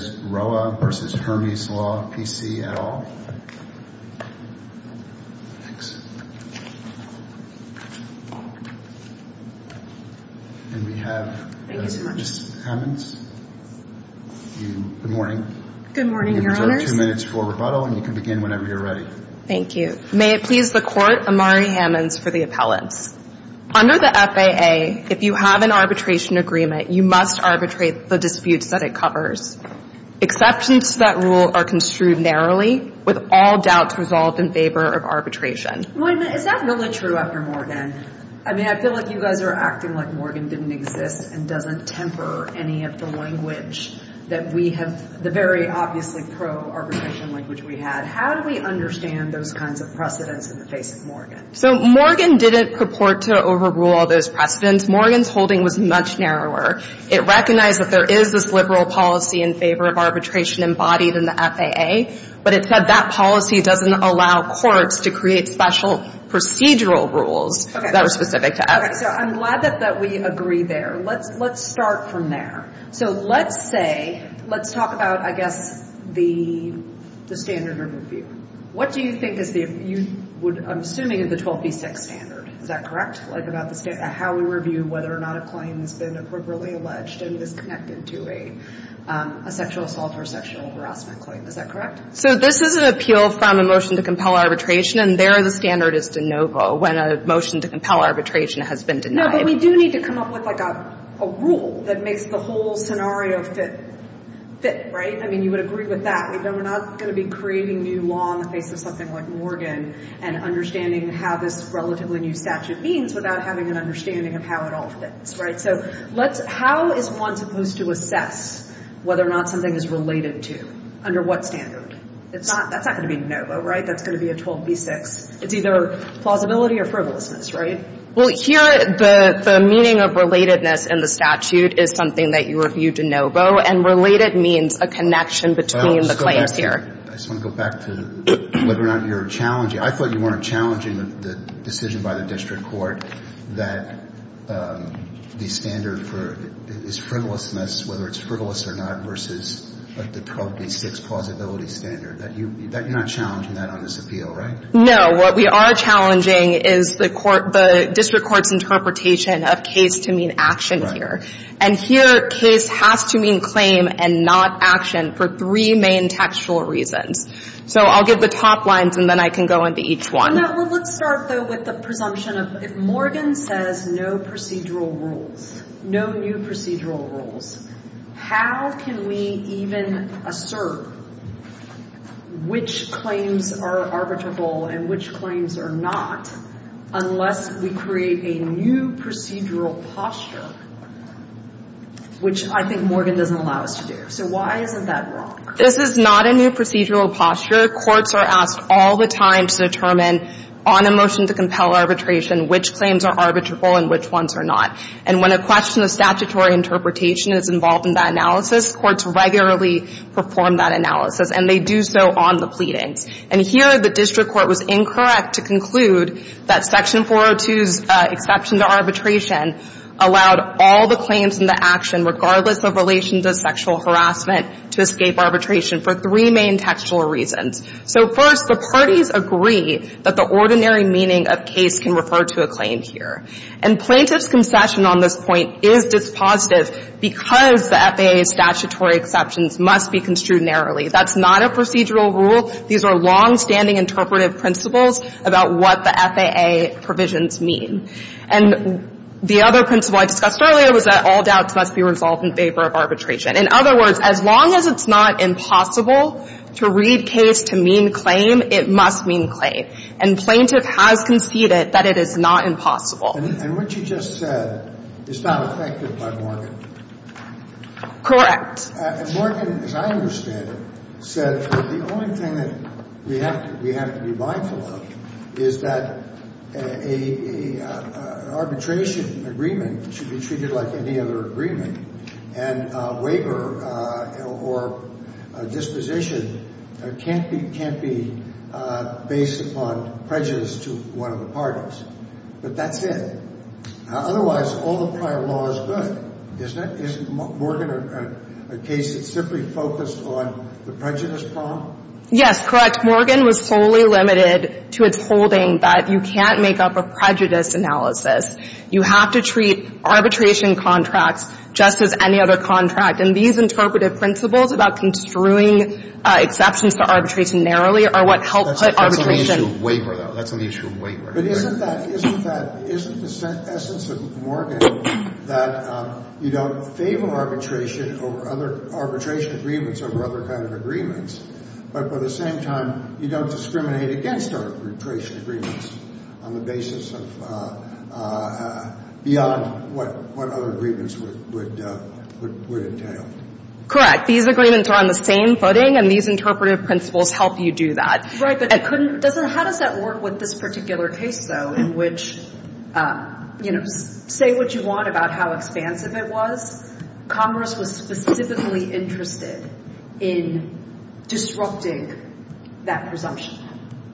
et al. And we have Ms. Hammonds. Good morning. Good morning, Your Honors. You have two minutes for rebuttal and you can begin whenever you're ready. Thank you. May it please the Court, Amari Hammonds for the appellants. Under the FAA, if you have an arbitration agreement, you must arbitrate the disputes that it covers. Exceptions to that rule are construed narrowly with all doubts resolved in favor of arbitration. Is that really true after Morgan? I mean, I feel like you guys are acting like Morgan didn't exist and doesn't temper any of the language that we have, the very obviously pro-arbitration language we had. How do we understand those kinds of precedents in the face of Morgan? So Morgan didn't purport to overrule all those precedents. Morgan's holding was much narrower. It recognized that there is this liberal policy in favor of arbitration embodied in the FAA, but it said that policy doesn't allow courts to create special procedural rules that are specific to FAA. Okay. So I'm glad that we agree there. Let's start from there. So let's say, let's talk about, I guess, the standard review. What do you think is the, you would, I'm assuming, the 12b6 standard. Is that correct? Like about the standard, how we review whether or not a claim has been appropriately alleged and is connected to a sexual assault or sexual harassment claim. Is that correct? So this is an appeal from a motion to compel arbitration, and there the standard is de novo when a motion to compel arbitration has been denied. No, but we do need to come up with, like, a rule that makes the whole scenario fit. Fit, right? I mean, you would agree with that. We're not going to be creating new law in the face of something like Morgan and understanding how this relatively new statute means without having an understanding of how it all fits, right? So let's – how is one supposed to assess whether or not something is related to? Under what standard? That's not going to be de novo, right? That's going to be a 12b6. It's either plausibility or frivolousness, right? Well, here the meaning of relatedness in the statute is something that you review de novo, and related means a connection between the claims here. I just want to go back to whether or not you're challenging – I thought you weren't challenging the decision by the district court that the standard for – is frivolousness, whether it's frivolous or not, versus, like, the 12b6 plausibility standard. That you – you're not challenging that on this appeal, right? No. What we are challenging is the court – the district court's interpretation of case to mean action here. Right. And here, case has to mean claim and not action for three main textual reasons. So I'll give the top lines, and then I can go into each one. No. Well, let's start, though, with the presumption of if Morgan says no procedural rules, no new procedural rules, how can we even assert which claims are arbitrable and which claims are not unless we create a new procedural posture in which the which I think Morgan doesn't allow us to do. So why isn't that wrong? This is not a new procedural posture. Courts are asked all the time to determine on a motion to compel arbitration which claims are arbitrable and which ones are not. And when a question of statutory interpretation is involved in that analysis, courts regularly perform that analysis, and they do so on the pleadings. And here, the district court was incorrect to conclude that Section 402's exception to arbitration allowed all the claims and the action, regardless of relation to sexual harassment, to escape arbitration for three main textual reasons. So, first, the parties agree that the ordinary meaning of case can refer to a claim here. And plaintiff's concession on this point is dispositive because the FAA's statutory exceptions must be construed narrowly. That's not a procedural rule. These are longstanding interpretive principles about what the FAA provisions mean. And the other principle I discussed earlier was that all doubts must be resolved in favor of arbitration. In other words, as long as it's not impossible to read case to mean claim, it must mean claim. And plaintiff has conceded that it is not impossible. And what you just said is not affected by Morgan. Correct. And Morgan, as I understand it, said that the only thing that we have to be mindful of is that an arbitration agreement should be treated like any other agreement. And waiver or disposition can't be based upon prejudice to one of the parties. But that's it. Otherwise, all the prior law is good, isn't it? Isn't Morgan a case that's simply focused on the prejudice problem? Yes, correct. Morgan was solely limited to its holding that you can't make up a prejudice analysis. You have to treat arbitration contracts just as any other contract. And these interpretive principles about construing exceptions to arbitration narrowly are what help put arbitration. That's on the issue of waiver, though. That's on the issue of waiver. But isn't that — isn't that — isn't the essence of Morgan that you don't favor arbitration over other — arbitration agreements over other kind of agreements, but at the same time, you don't discriminate against arbitration agreements on the basis of — beyond what other agreements would entail? Correct. These agreements are on the same footing, and these interpretive principles help you do that. Right. But it couldn't — doesn't — how does that work with this particular case, though, in which — you know, say what you want about how expansive it was. Congress was specifically interested in disrupting that presumption.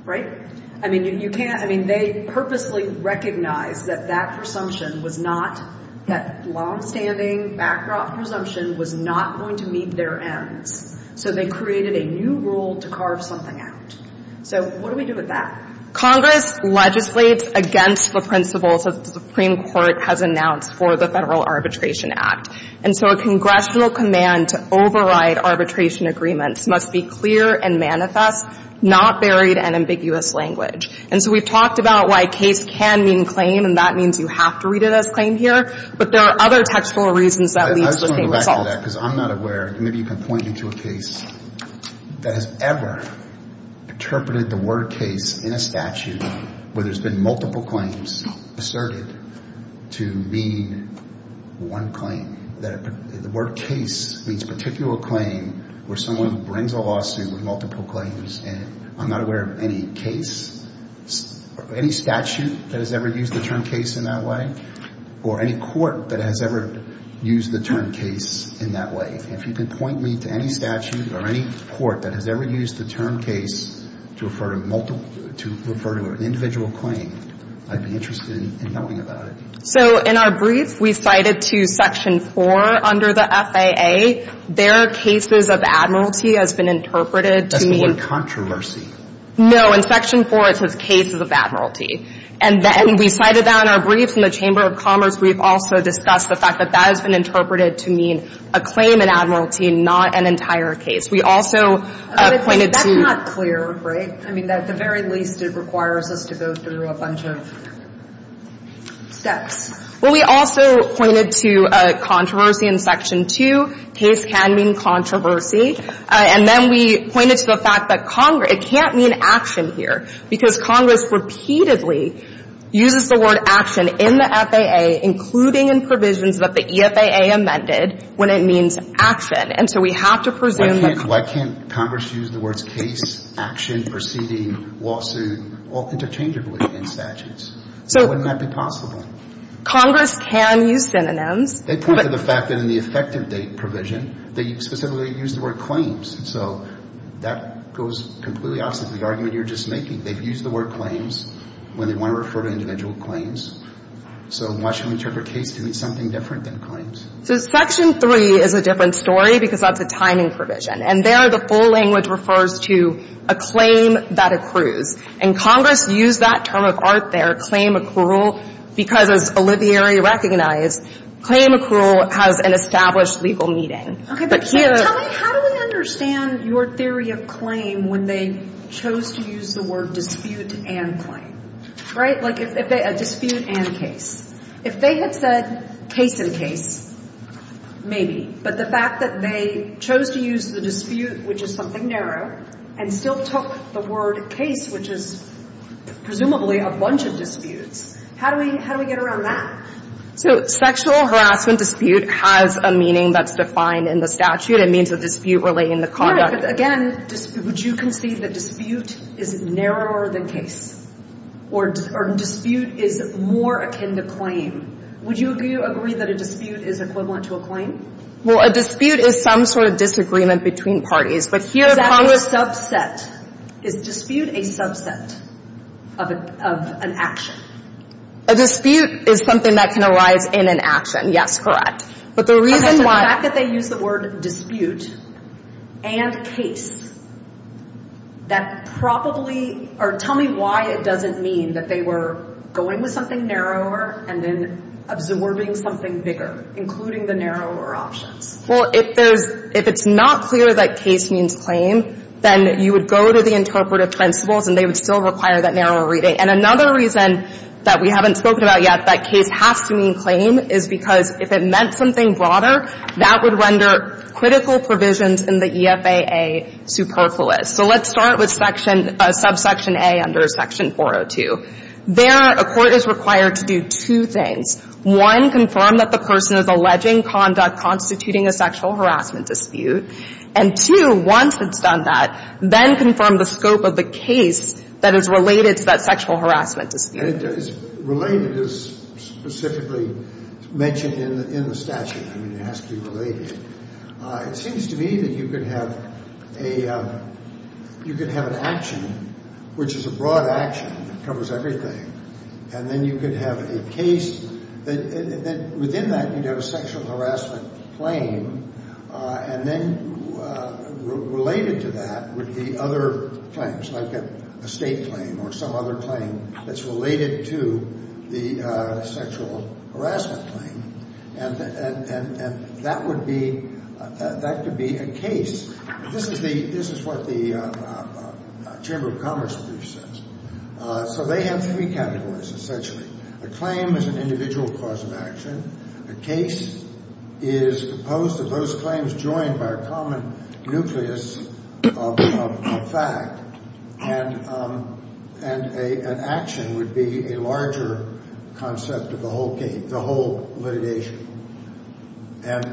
Right? I mean, you can't — I mean, they purposely recognized that that presumption was not — that longstanding backdrop presumption was not going to meet their ends. So they created a new rule to carve something out. So what do we do with that? Congress legislates against the principles that the Supreme Court has announced for the Federal Arbitration Act. And so a congressional command to override arbitration agreements must be clear and manifest, not buried in ambiguous language. And so we've talked about why case can mean claim, and that means you have to read it as claim here. But there are other textual reasons that lead to the same result. I just want to go back to that, because I'm not aware — maybe you can point me to a case that has ever interpreted the word case in a statute where there's been multiple claims asserted to mean one claim. That the word case means particular claim where someone brings a lawsuit with multiple claims. And I'm not aware of any case — any statute that has ever used the term case in that way, or any court that has ever used the term case in that way. And if you can point me to any statute or any court that has ever used the term case to refer to multiple — to refer to an individual claim, I'd be interested in knowing about it. So in our brief, we cited to Section 4 under the FAA, their cases of admiralty has been interpreted to mean — That's the word controversy. No, in Section 4, it says cases of admiralty. And then we cited that in our brief from the Chamber of Commerce. We've also discussed the fact that that has been interpreted to mean a claim in admiralty, not an entire case. We also pointed to — Not clear, right? I mean, at the very least, it requires us to go through a bunch of steps. Well, we also pointed to controversy in Section 2. Case can mean controversy. And then we pointed to the fact that Congress — it can't mean action here, because Congress repeatedly uses the word action in the FAA, including in provisions that the EFAA amended, when it means action. And so we have to presume that — Why can't Congress use the words case, action, proceeding, lawsuit, all interchangeably in statutes? So wouldn't that be possible? Congress can use synonyms. They pointed to the fact that in the effective date provision, they specifically used the word claims. So that goes completely opposite of the argument you were just making. They've used the word claims when they want to refer to individual claims. So why should we interpret case to mean something different than claims? So Section 3 is a different story, because that's a timing provision. And there, the full language refers to a claim that accrues. And Congress used that term of art there, claim accrual, because, as Olivieri recognized, claim accrual has an established legal meaning. Okay. But tell me, how do we understand your theory of claim when they chose to use the word dispute and claim? Right? Like, dispute and case. If they had said case and case, maybe. But the fact that they chose to use the dispute, which is something narrow, and still took the word case, which is presumably a bunch of disputes, how do we get around that? So sexual harassment dispute has a meaning that's defined in the statute. It means a dispute relating to conduct. Again, would you concede that dispute is narrower than case? Or dispute is more akin to claim? Would you agree that a dispute is equivalent to a claim? Well, a dispute is some sort of disagreement between parties. But here Congress Is that a subset? Is dispute a subset of an action? A dispute is something that can arise in an action. Yes, correct. But the reason why Okay, so the fact that they use the word mean that they were going with something narrower and then absorbing something bigger, including the narrower options? Well, if there's if it's not clear that case means claim, then you would go to the interpretive principles and they would still require that narrower reading. And another reason that we haven't spoken about yet, that case has to mean claim is because if it meant something broader, that would render critical provisions in the EFAA superfluous. So let's start with subsection A under section 402. There a court is required to do two things. One, confirm that the person is alleging conduct constituting a sexual harassment dispute. And two, once it's done that, then confirm the scope of the case that is related to that sexual harassment dispute. And related is specifically mentioned in the statute. I mean, it has to be related. It seems to me that you could have a you could have an action, which is a broad action that covers everything. And then you could have a case that within that you'd have a sexual harassment claim. And then related to that would be other claims, like a state claim or some other claim that's related to the sexual harassment claim. And that would be that could be a case. This is the this is what the Chamber of Commerce brief says. So they have three categories, essentially. A claim is an individual cause of action. A case is opposed to those claims joined by a common nucleus of fact. And an action would be a larger concept of the whole case, the whole litigation. And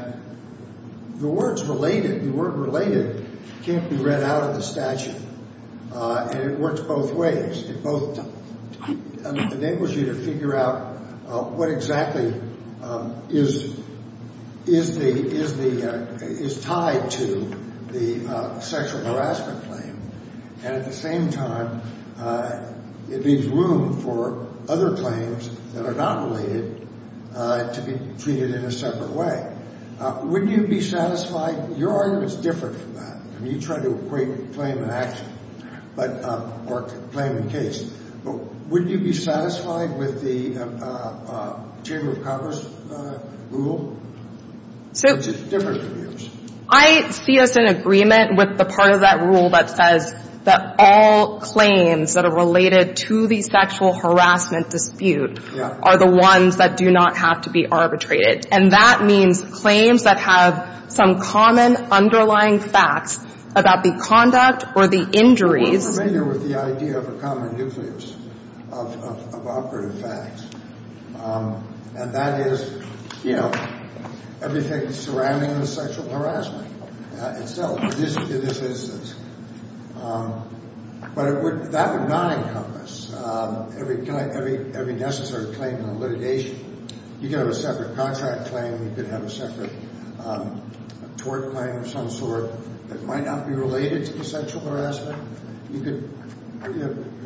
the words related, the word related, can't be read out of the statute. And it works both ways. It both enables you to figure out what exactly is tied to the sexual harassment claim. And at the same time, it leaves room for other claims that are not related to be treated in a separate way. Wouldn't you be satisfied? Your argument's different from that. I mean, you try to equate claim and action, but or claim and case. But wouldn't you be satisfied with the Chamber of Commerce rule, which is different from yours? So I see us in agreement with the part of that rule that says that all claims that are related to the sexual harassment dispute are the ones that do not have to be arbitrated. And that means claims that have some common underlying facts about the conduct or the injuries. I'm familiar with the idea of a common nucleus of operative facts. And that is, you know, everything surrounding the sexual harassment itself in this instance. But that would not encompass every necessary claim in a litigation. You could have a separate contract claim. You could have a separate tort claim of some sort that might not be related to the sexual harassment. You could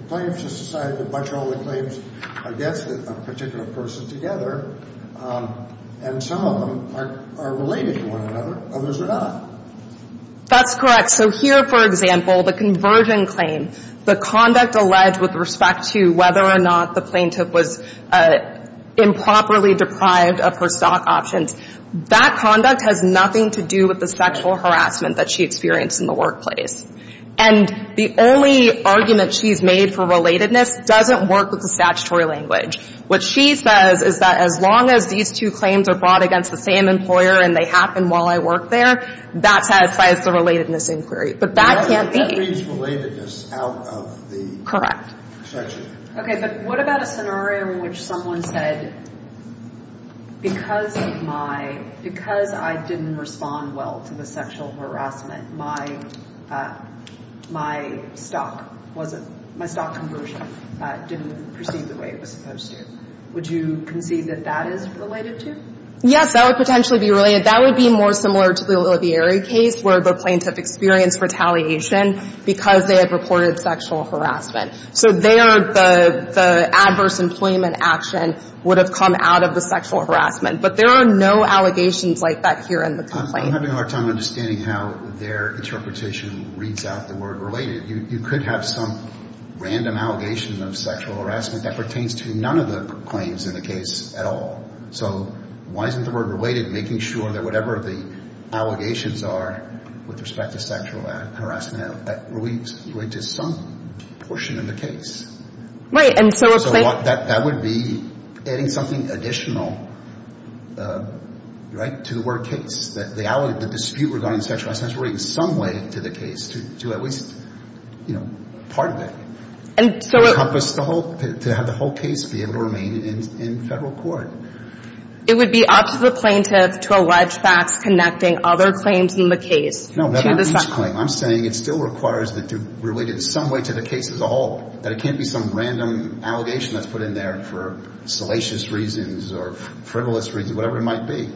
claim to society to bunch all the claims, I guess, with a particular person together. And some of them are related to one another. Others are not. That's correct. So here, for example, the conversion claim, the conduct alleged with respect to whether or not the plaintiff was improperly deprived of her stock options, that conduct has nothing to do with the sexual harassment that she experienced in the workplace. And the only argument she's made for relatedness doesn't work with the statutory language. What she says is that as long as these two claims are brought against the same employer and they happen while I work there, that satisfies the relatedness inquiry. But that can't be. Relatedness out of the section. OK. But what about a scenario in which someone said, because I didn't respond well to the sexual harassment, my stock conversion didn't proceed the way it was supposed to? Would you concede that that is related to? Yes. That would potentially be related. That would be more similar to the O'Leary case, where the plaintiff experienced retaliation because they had reported sexual harassment. So there, the adverse employment action would have come out of the sexual harassment. But there are no allegations like that here in the complaint. I'm having a hard time understanding how their interpretation reads out the word related. You could have some random allegation of sexual harassment that pertains to none of the claims in the case at all. So why isn't the word related? Making sure that whatever the allegations are with respect to sexual harassment, that relates to some portion of the case. Right. And so that would be adding something additional, right, to the word case. That the dispute regarding sexual harassment is related in some way to the case to at least, you know, part of it. And so to have the whole case be able to remain in federal court. It would be up to the plaintiff to allege facts connecting other claims in the case. No, not each claim. I'm saying it still requires that they're related in some way to the case as a whole. That it can't be some random allegation that's put in there for salacious reasons or frivolous reasons, whatever it might be.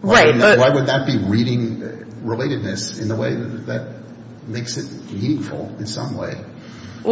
Right. Why would that be reading relatedness in the way that makes it meaningful in some way?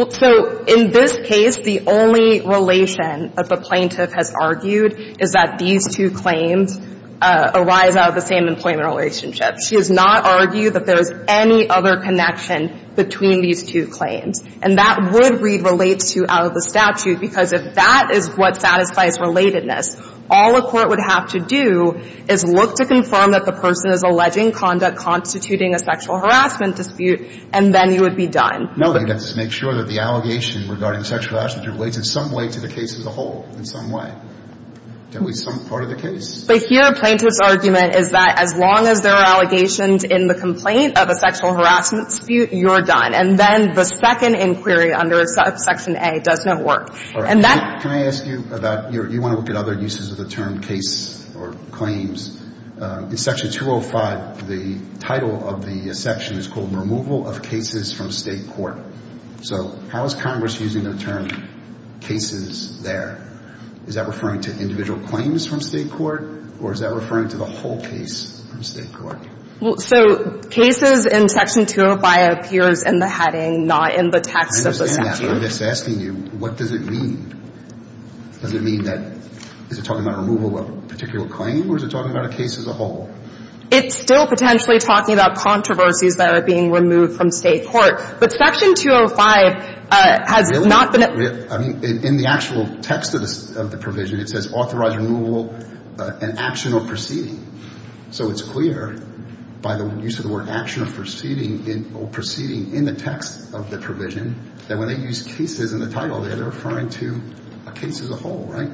So in this case, the only relation that the plaintiff has argued is that these two claims arise out of the same employment relationship. She has not argued that there is any other connection between these two claims. And that would read relates to out of the statute. Because if that is what satisfies relatedness, all a court would have to do is look to confirm that the person is alleging conduct constituting a sexual harassment dispute. And then you would be done. You'd have to make sure that the allegation regarding sexual harassment relates in some way to the case as a whole, in some way. That would be some part of the case. But here, a plaintiff's argument is that as long as there are allegations in the complaint of a sexual harassment dispute, you're done. And then the second inquiry under section A does not work. All right. And that. Can I ask you about, you want to look at other uses of the term case or claims. In section 205, the title of the section is called removal of cases from state court. So how is Congress using the term cases there? Is that referring to individual claims from state court? Or is that referring to the whole case from state court? Well, so cases in section 205 appears in the heading, not in the text of the section. I'm just asking you, what does it mean? Does it mean that, is it talking about removal of a particular claim? Or is it talking about a case as a whole? It's still potentially talking about controversies that are being removed from state court. But section 205 has not been. In the actual text of the provision, it says authorized removal and action or proceeding. So it's clear by the use of the word action or proceeding in the text of the provision that when they use cases in the title, they're referring to a case as a whole, right?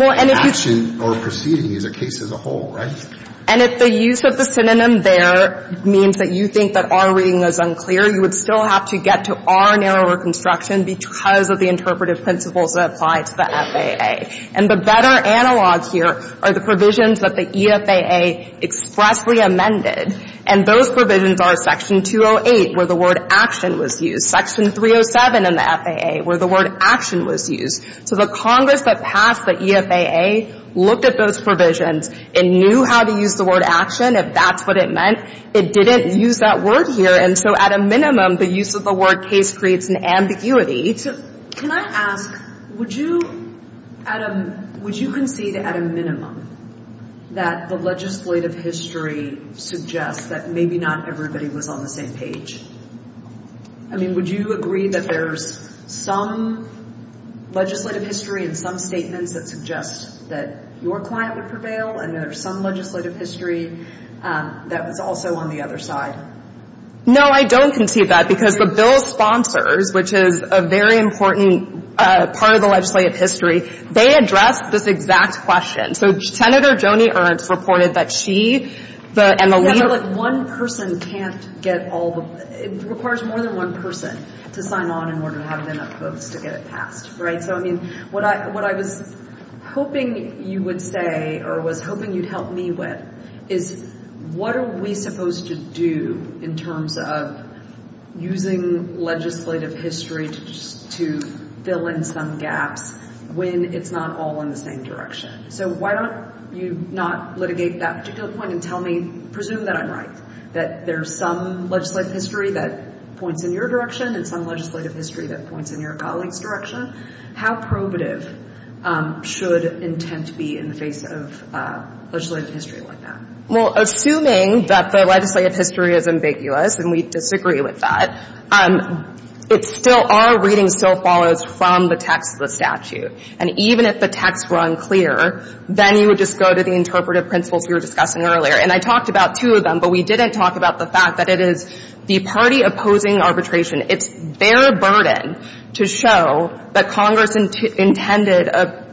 And action or proceeding is a case as a whole, right? And if the use of the synonym there means that you think that our reading is unclear, you would still have to get to our narrower construction because of the interpretive principles that apply to the FAA. And the better analog here are the provisions that the EFAA expressly amended. And those provisions are section 208, where the word action was used, section 307 in the FAA, where the word action was used. So the Congress that passed the EFAA looked at those provisions and knew how to use the word action, if that's what it meant. It didn't use that word here. And so at a minimum, the use of the word case creates an ambiguity. So can I ask, would you at a, would you concede at a minimum that the legislative history suggests that maybe not everybody was on the same page? I mean, would you agree that there's some legislative history and some statements that suggest that your client would prevail and there's some legislative history that was also on the other side? No, I don't concede that because the bill sponsors, which is a very important part of the legislative history, they addressed this exact question. So Senator Joni Ernst reported that she, the, and the leader... It requires more than one person to sign on in order to have enough votes to get it passed, right? So, I mean, what I, what I was hoping you would say, or was hoping you'd help me with is what are we supposed to do in terms of using legislative history to just, to fill in some gaps when it's not all in the same direction? So why don't you not litigate that particular point and tell me, presume that I'm right, that there's some legislative history that points in your direction and some legislative history that points in your colleague's direction. How probative should intent be in the face of legislative history like that? Well, assuming that the legislative history is ambiguous, and we disagree with that, it still, our reading still follows from the text of the statute. And even if the text were unclear, then you would just go to the interpretive principles we were discussing earlier. And I talked about two of them, but we didn't talk about the fact that it is the party opposing arbitration. It's their burden to show that Congress intended a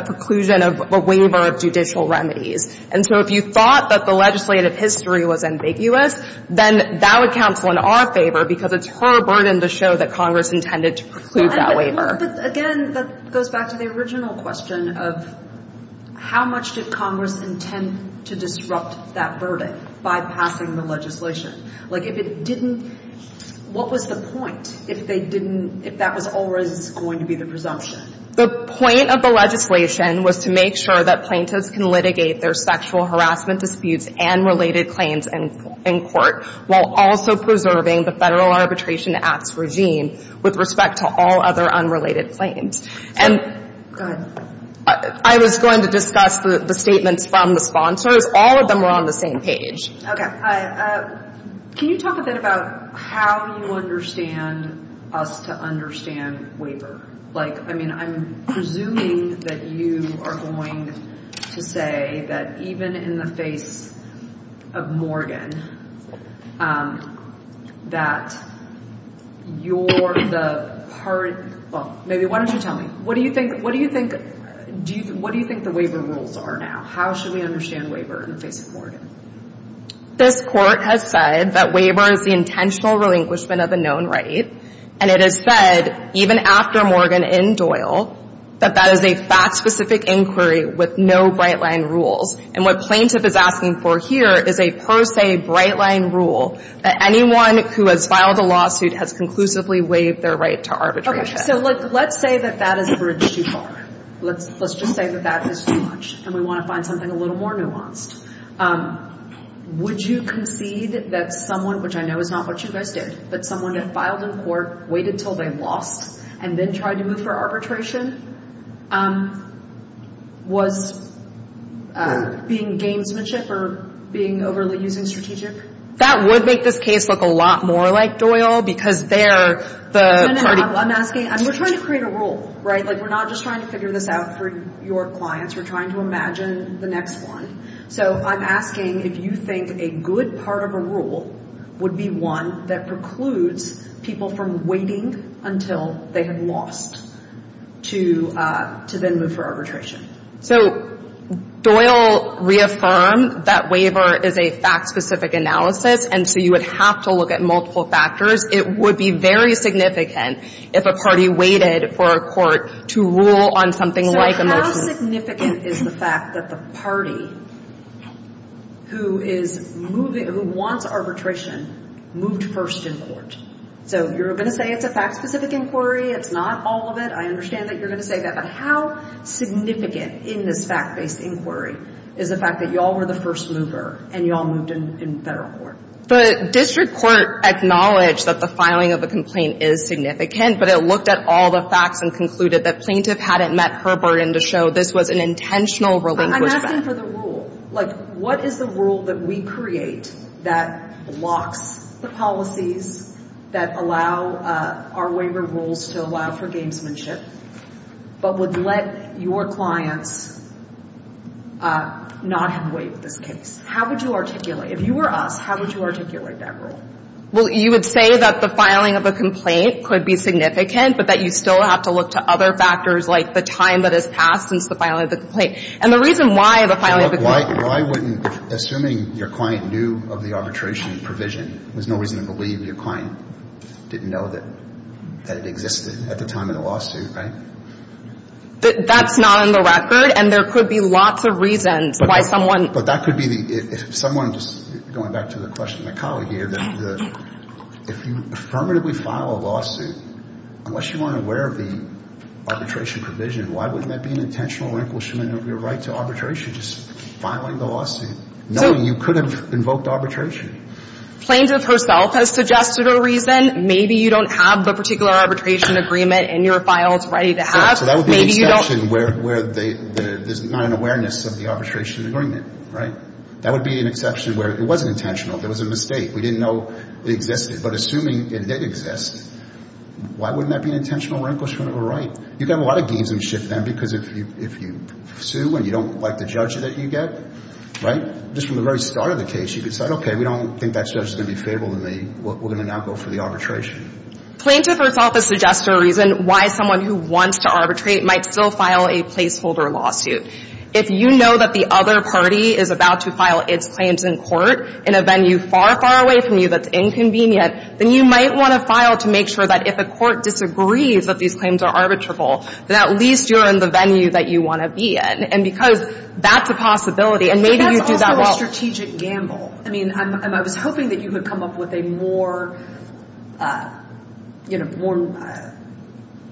preclusion of a waiver of judicial remedies. And so if you thought that the legislative history was ambiguous, then that would counsel in our favor because it's her burden to show that Congress intended to preclude that waiver. But again, that goes back to the original question of how much did Congress intend to disrupt that verdict by passing the legislation? Like, if it didn't, what was the point if they didn't, if that was always going to be the presumption? The point of the legislation was to make sure that plaintiffs can litigate their sexual harassment disputes and related claims in court while also preserving the Federal Arbitration Act's regime with respect to all other unrelated claims. And I was going to discuss the statements from the sponsors. All of them were on the same page. Okay. Can you talk a bit about how you understand us to understand waiver? Like, I mean, I'm presuming that you are going to say that even in the face of Morgan that you're the party, well, maybe, why don't you tell me? What do you think the waiver rules are now? How should we understand waiver in the face of Morgan? This Court has said that waiver is the intentional relinquishment of a known right. And it has said, even after Morgan in Doyle, that that is a fact-specific inquiry with no bright-line rules. And what plaintiff is asking for here is a pro se bright-line rule that anyone who has filed a lawsuit has conclusively waived their right to arbitration. So let's say that that is bridged too far. Let's just say that that is too much and we want to find something a little more nuanced. Would you concede that someone, which I know is not what you guys did, that someone had filed in court, waited until they lost, and then tried to move for arbitration was being gamesmanship or being overly strategic? That would make this case look a lot more like Doyle because they're the party. I'm asking, we're trying to create a rule, right? Like, we're not just trying to figure this out for your clients. We're trying to imagine the next one. So I'm asking if you think a good part of a rule would be one that precludes people from waiting until they had lost to then move for arbitration. So Doyle reaffirmed that waiver is a fact-specific analysis, and so you would have to look at multiple factors. It would be very significant if a party waited for a court to rule on something like a motion. So how significant is the fact that the party who wants arbitration moved first in court? So you're going to say it's a fact-specific inquiry. It's not all of it. I understand that you're going to say that. But how significant in this fact-based inquiry is the fact that y'all were the first mover and y'all moved in federal court? The district court acknowledged that the filing of the complaint is significant, but it looked at all the facts and concluded that plaintiff hadn't met her burden to show this was an intentional relinquishment. I'm asking for the rule. Like, what is the rule that we create that locks the policies that allow our waiver rules to allow for gamesmanship but would let your clients not have to wait for this case? How would you articulate? If you were us, how would you articulate that rule? Well, you would say that the filing of a complaint could be significant, but that you still have to look to other factors like the time that has passed since the filing of the complaint. And the reason why the filing of the complaint — Why wouldn't — assuming your client knew of the arbitration provision, there's no reason to believe your client didn't know that it existed at the time of the lawsuit, right? That's not in the record, and there could be lots of reasons why someone — But that could be the — if someone just — going back to the question of my colleague here, if you affirmatively file a lawsuit, unless you aren't aware of the arbitration provision, why wouldn't that be an intentional relinquishment of your right to arbitration, just filing the lawsuit, knowing you could have invoked arbitration? Plaintiff herself has suggested a reason. Maybe you don't have the particular arbitration agreement in your files ready to have. So that would be an exception where there's not an awareness of the arbitration agreement, right? That would be an exception where it wasn't intentional. There was a mistake. We didn't know it existed. But assuming it did exist, why wouldn't that be an intentional relinquishment of a right? You can have a lot of games and shit then, because if you sue and you don't like the judge that you get, right, just from the very start of the case, you could say, OK, we don't think that judge is going to be favorable to me. We're going to now go for the arbitration. Plaintiff herself has suggested a reason why someone who wants to arbitrate might still file a placeholder lawsuit. If you know that the other party is about to file its claims in court in a venue far, far away from you that's inconvenient, then you might want to file to make sure that if the court disagrees that these claims are arbitrable, that at least you're in the venue that you want to be in. And because that's a possibility. And maybe you do that well. But that's also a strategic gamble. I mean, I was hoping that you could come up with a more, you know, more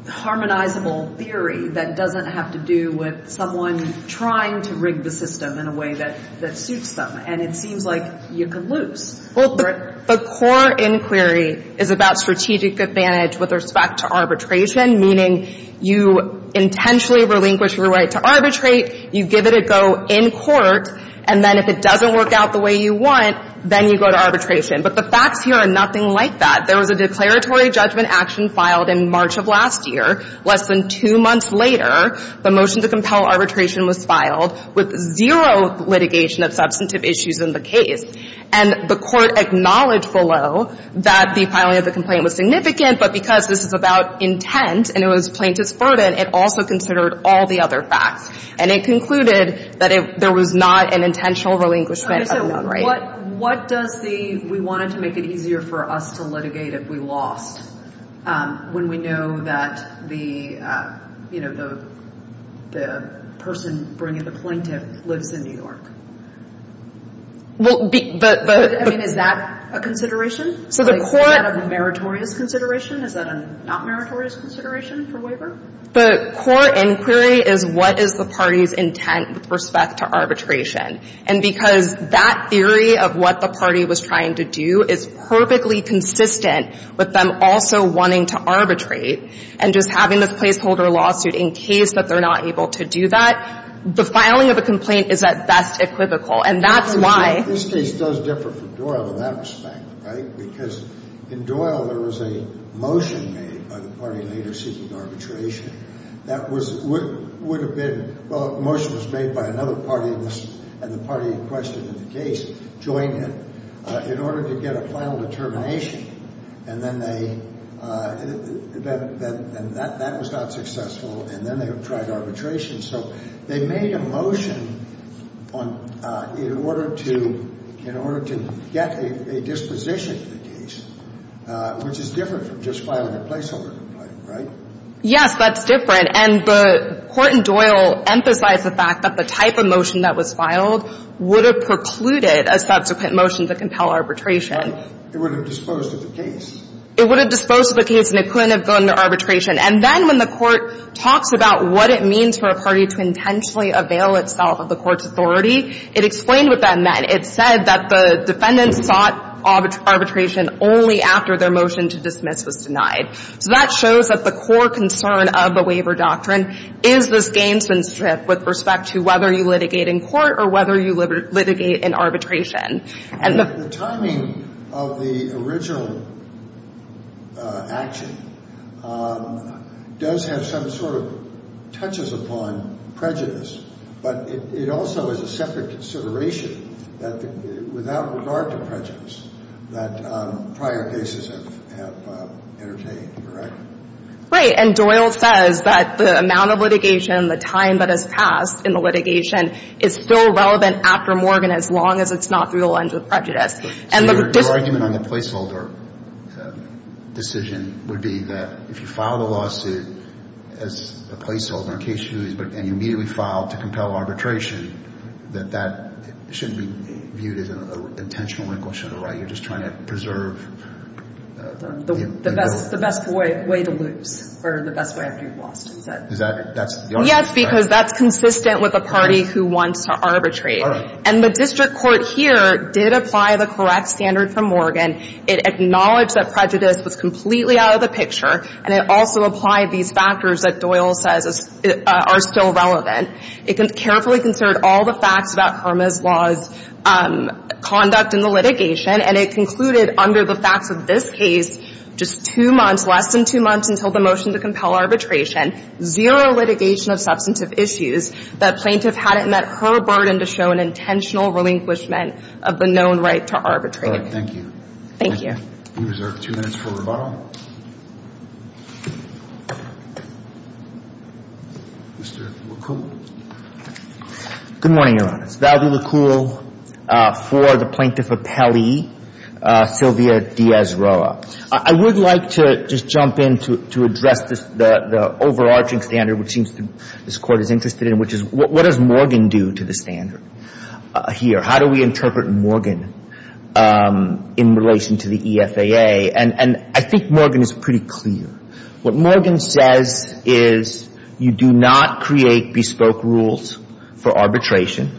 harmonizable theory that doesn't have to do with someone trying to rig the system in a way that suits them. And it seems like you could lose. Well, the core inquiry is about strategic advantage with respect to arbitration, meaning you intentionally relinquish your right to arbitrate. You give it a go in court. And then if it doesn't work out the way you want, then you go to arbitration. But the facts here are nothing like that. There was a declaratory judgment action filed in March of last year. Less than two months later, the motion to compel arbitration was filed with zero litigation of substantive issues in the case. And the court acknowledged below that the filing of the complaint was significant. But because this is about intent and it was plaintiff's burden, it also considered all the other facts. And it concluded that there was not an intentional relinquishment of non-right. What does the, we wanted to make it easier for us to litigate if we lost, when we know that the, you know, the person bringing the plaintiff lives in New York? Well, the, the, the. I mean, is that a consideration? So the court. Is that a meritorious consideration? Is that a not meritorious consideration for waiver? The core inquiry is what is the party's intent with respect to arbitration. And because that theory of what the party was trying to do is perfectly consistent with them also wanting to arbitrate and just having this placeholder lawsuit in case that they're not able to do that. The filing of a complaint is at best equivocal. And that's why. This case does differ from Doyle in that respect, right? Because in Doyle, there was a motion made by the party leader seeking arbitration that was, would have been, well, a motion was made by another party and the party in question in the case joined it in order to get a final determination. And then they, that, that, and that, that was not successful. And then they tried arbitration. So they made a motion on, in order to, in order to get a disposition for the case, which is different from just filing a placeholder complaint, right? Yes, that's different. And the court in Doyle emphasized the fact that the type of motion that was filed would have precluded a subsequent motion to compel arbitration. It would have disposed of the case. It would have disposed of the case and it couldn't have gone to arbitration. And then when the court talks about what it means for a party to intentionally avail itself of the court's authority, it explained what that meant. It said that the defendants sought arbitration only after their motion to dismiss was denied. So that shows that the core concern of the waiver doctrine is this gamesmanship with respect to whether you litigate in court or whether you litigate in arbitration. The timing of the original action does have some sort of touches upon prejudice, but it also is a separate consideration that, without regard to prejudice, that prior cases have entertained, correct? Right. And Doyle says that the amount of litigation, the time that has passed in the litigation is still relevant after Morgan as long as it's not through the lens of prejudice. So your argument on the placeholder decision would be that if you file the lawsuit as a placeholder in case you lose and you immediately file to compel arbitration, that that shouldn't be viewed as an intentional inquisition, right? You're just trying to preserve the goal. The best way to lose or the best way after you've lost, he said. Is that the argument? Yes, because that's consistent with a party who wants to arbitrate. And the district court here did apply the correct standard from Morgan. It acknowledged that prejudice was completely out of the picture, and it also applied these factors that Doyle says are still relevant. It carefully considered all the facts about Kerma's law's conduct in the litigation, and it concluded under the facts of this case, just two months, less than two months until the motion to compel arbitration, zero litigation of substantive issues, that plaintiff hadn't met her burden to show an intentional relinquishment of the known right to arbitrate. All right. Thank you. Thank you. You reserve two minutes for rebuttal. Mr. Lacool. Good morning, Your Honor. It's Valdy Lacool for the Plaintiff Appellee, Sylvia D'Azeroa. I would like to just jump in to address the overarching standard, which seems this Court is interested in, which is what does Morgan do to the standard here? How do we interpret Morgan in relation to the EFAA? And I think Morgan is pretty clear. What Morgan says is you do not create bespoke rules for arbitration.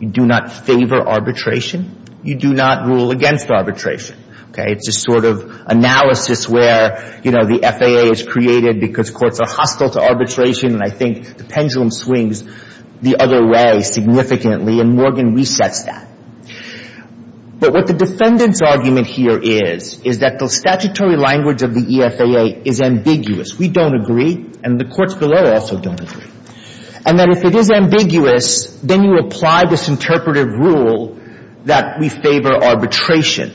You do not favor arbitration. You do not rule against arbitration. It's a sort of analysis where the FAA is created because courts are hostile to arbitration, and I think the pendulum swings the other way significantly, and Morgan resets that. But what the defendant's argument here is, is that the statutory language of the EFAA is ambiguous. We don't agree, and the courts below also don't agree. And that if it is ambiguous, then you apply this interpretive rule that we favor arbitration.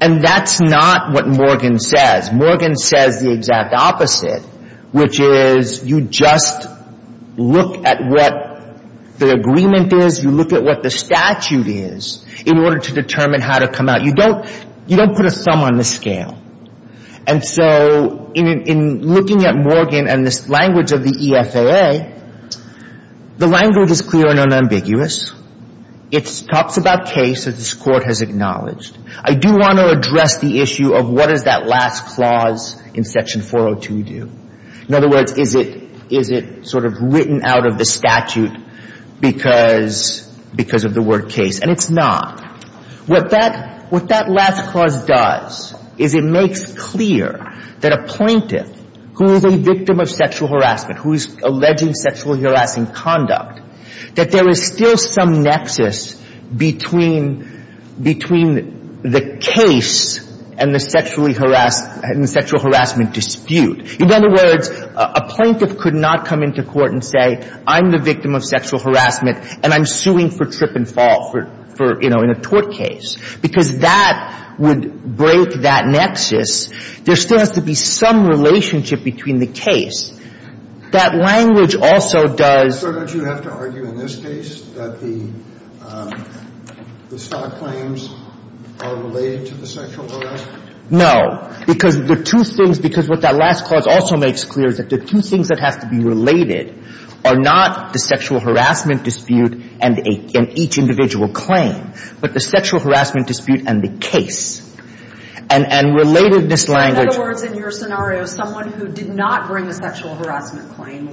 And that's not what Morgan says. Morgan says the exact opposite, which is you just look at what the agreement is. You look at what the statute is in order to determine how to come out. You don't put a thumb on the scale. And so in looking at Morgan and this language of the EFAA, the language is clear and unambiguous. It talks about case that this Court has acknowledged. I do want to address the issue of what does that last clause in Section 402 do? In other words, is it sort of written out of the statute because of the word case? And it's not. What that last clause does is it makes clear that a plaintiff who is a victim of sexual harassment, who is alleging sexual harassment conduct, that there is still some nexus between the case and the sexual harassment dispute. In other words, a plaintiff could not come into court and say, I'm the victim of sexual harassment, and I'm suing for trip and fall for, you know, in a tort case. Because that would break that nexus. There still has to be some relationship between the case. That language also does... So don't you have to argue in this case that the stock claims are related to the sexual harassment? No, because the two things, because what that last clause also makes clear is that the two things that have to be related are not the sexual harassment dispute and each individual claim, but the sexual harassment dispute and the case. And relatedness language...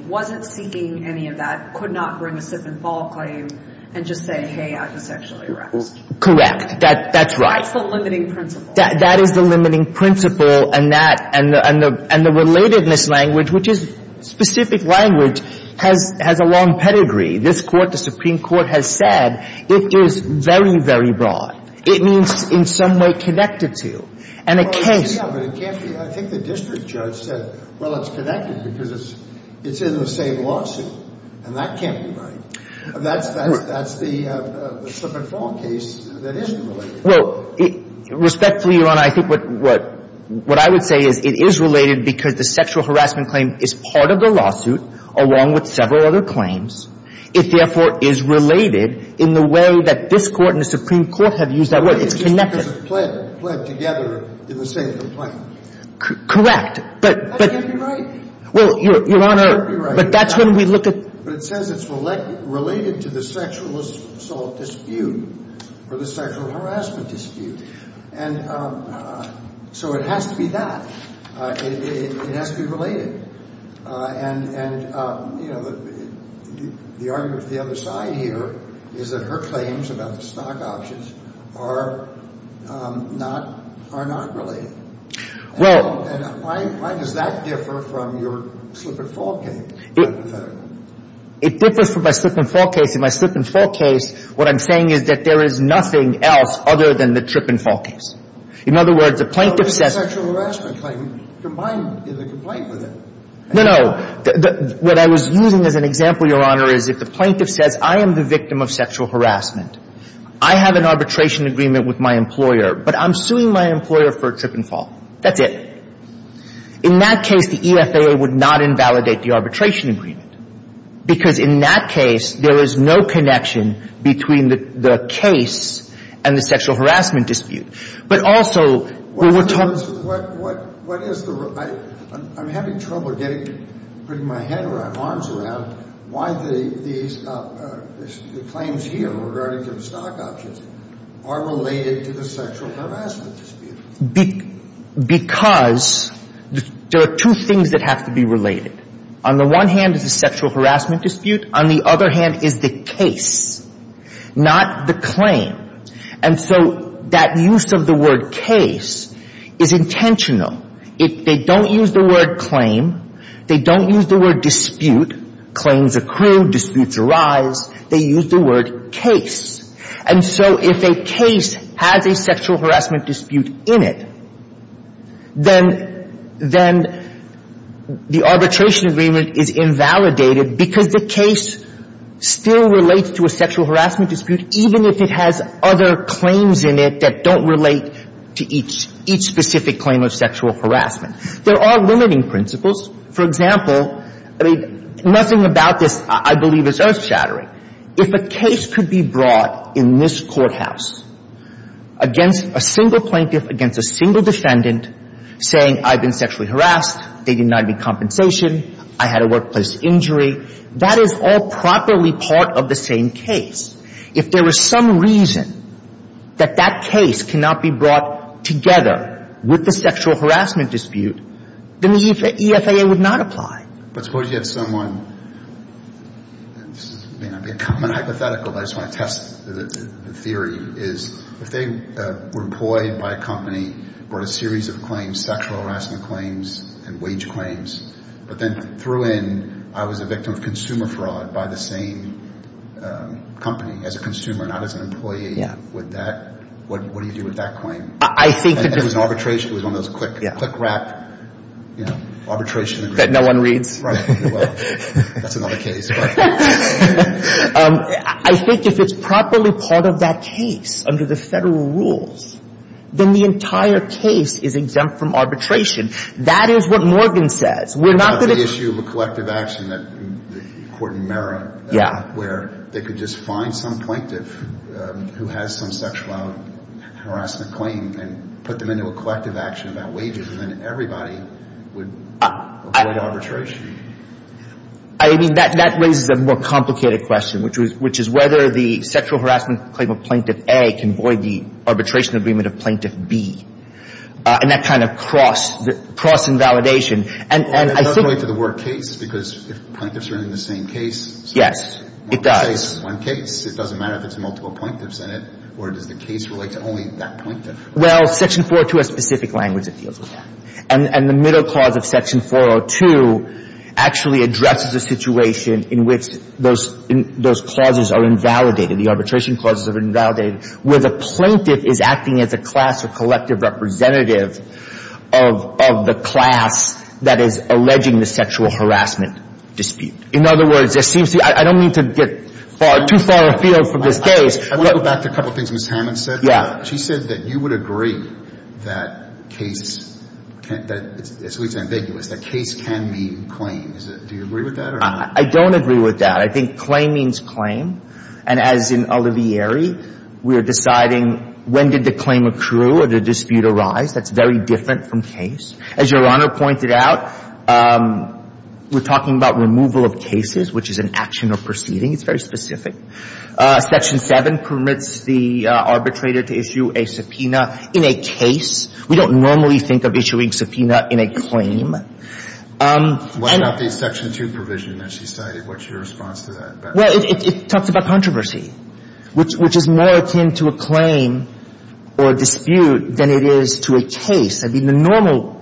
...wasn't seeking any of that, could not bring a trip and fall claim, and just say, hey, I was sexually harassed. Correct. That's right. That's the limiting principle. That is the limiting principle. And the relatedness language, which is specific language, has a long pedigree. This Court, the Supreme Court, has said it is very, very broad. It means in some way connected to. And a case... I think the district judge said, well, it's connected because it's in the same lawsuit, and that can't be right. That's the slip and fall case that isn't related. Well, respectfully, Your Honor, I think what I would say is it is related because the sexual harassment claim is part of the lawsuit, along with several other claims. It therefore is related in the way that this Court and the Supreme Court have used that word. It's connected. Pled together in the same complaint. Correct, but... That can't be right. Well, Your Honor, but that's when we look at... But it says it's related to the sexual assault dispute or the sexual harassment dispute. And so it has to be that. It has to be related. And, you know, the argument of the other side here is that her claims about the stock options are not related. Well... And why does that differ from your slip and fall case? It differs from my slip and fall case. In my slip and fall case, what I'm saying is that there is nothing else other than the trip and fall case. In other words, the plaintiff says... The sexual harassment claim combined in the complaint with it. No, no. What I was using as an example, Your Honor, is if the plaintiff says, I am the victim of sexual harassment, I have an arbitration agreement with my employer, but I'm suing my employer for a trip and fall. That's it. In that case, the EFAA would not invalidate the arbitration agreement. Because in that case, there is no connection between the case and the sexual harassment dispute. But also, we were told... What is the... I'm having trouble getting... Putting my head around... Arms around... Why the claims here regarding the stock options are related to the sexual harassment dispute? Because there are two things that have to be related. On the one hand is the sexual harassment dispute. On the other hand is the case. Not the claim. And so that use of the word case is intentional. If they don't use the word claim, they don't use the word dispute. Claims accrue. Disputes arise. They use the word case. And so if a case has a sexual harassment dispute in it, then the arbitration agreement is invalidated because the case still relates to a sexual harassment dispute, even if it has other claims in it that don't relate to each specific claim of sexual harassment. There are limiting principles. For example, I mean, nothing about this I believe is earth shattering. If a case could be brought in this courthouse against a single plaintiff, against a single defendant, saying I've been sexually harassed, they denied me compensation, I had a workplace injury, that is all properly part of the same case. If there was some reason that that case cannot be brought together with the sexual harassment dispute, then the EFAA would not apply. But suppose you have someone, this may not be a common hypothetical, but I just want to test the theory, is if they were employed by a company, brought a series of claims, sexual harassment claims, and wage claims, but then threw in I was a victim of consumer as a consumer, not as an employee, what do you do with that claim? It was an arbitration, it was one of those quick wrap, you know, arbitration. That no one reads? Right, well, that's another case. I think if it's properly part of that case under the federal rules, then the entire case is exempt from arbitration. That is what Morgan says. We're not going to issue a collective action, the court in Merrim, where they could just find some plaintiff who has some sexual harassment claim and put them into a collective action about wages, and then everybody would avoid arbitration. I mean, that raises a more complicated question, which is whether the sexual harassment claim of Plaintiff A can void the arbitration agreement of Plaintiff B. And that kind of cross-invalidation, and I think... Well, that doesn't relate to the work case, because if plaintiffs are in the same case... Yes, it does. But that is one case. It doesn't matter if it's multiple plaintiffs in it, or does the case relate to only that plaintiff? Well, Section 402 has specific language that deals with that. And the middle clause of Section 402 actually addresses a situation in which those clauses are invalidated, the arbitration clauses are invalidated, where the plaintiff is acting as a class or collective representative of the class that is alleging the sexual harassment dispute. In other words, it seems to me, I don't mean to get too far afield from this case. I want to go back to a couple of things Ms. Hammond said. She said that you would agree that case can't be, at least ambiguous, that case can mean claim. Do you agree with that? I don't agree with that. I think claim means claim. And as in Olivieri, we are deciding when did the claim accrue or the dispute arise. That's very different from case. As Your Honor pointed out, we're talking about removal of cases, which is an action or proceeding. It's very specific. Section 7 permits the arbitrator to issue a subpoena in a case. We don't normally think of issuing subpoena in a claim. What about the Section 2 provision that she cited? What's your response to that? Well, it talks about controversy, which is more akin to a claim or a dispute than it is to a case. I mean, the normal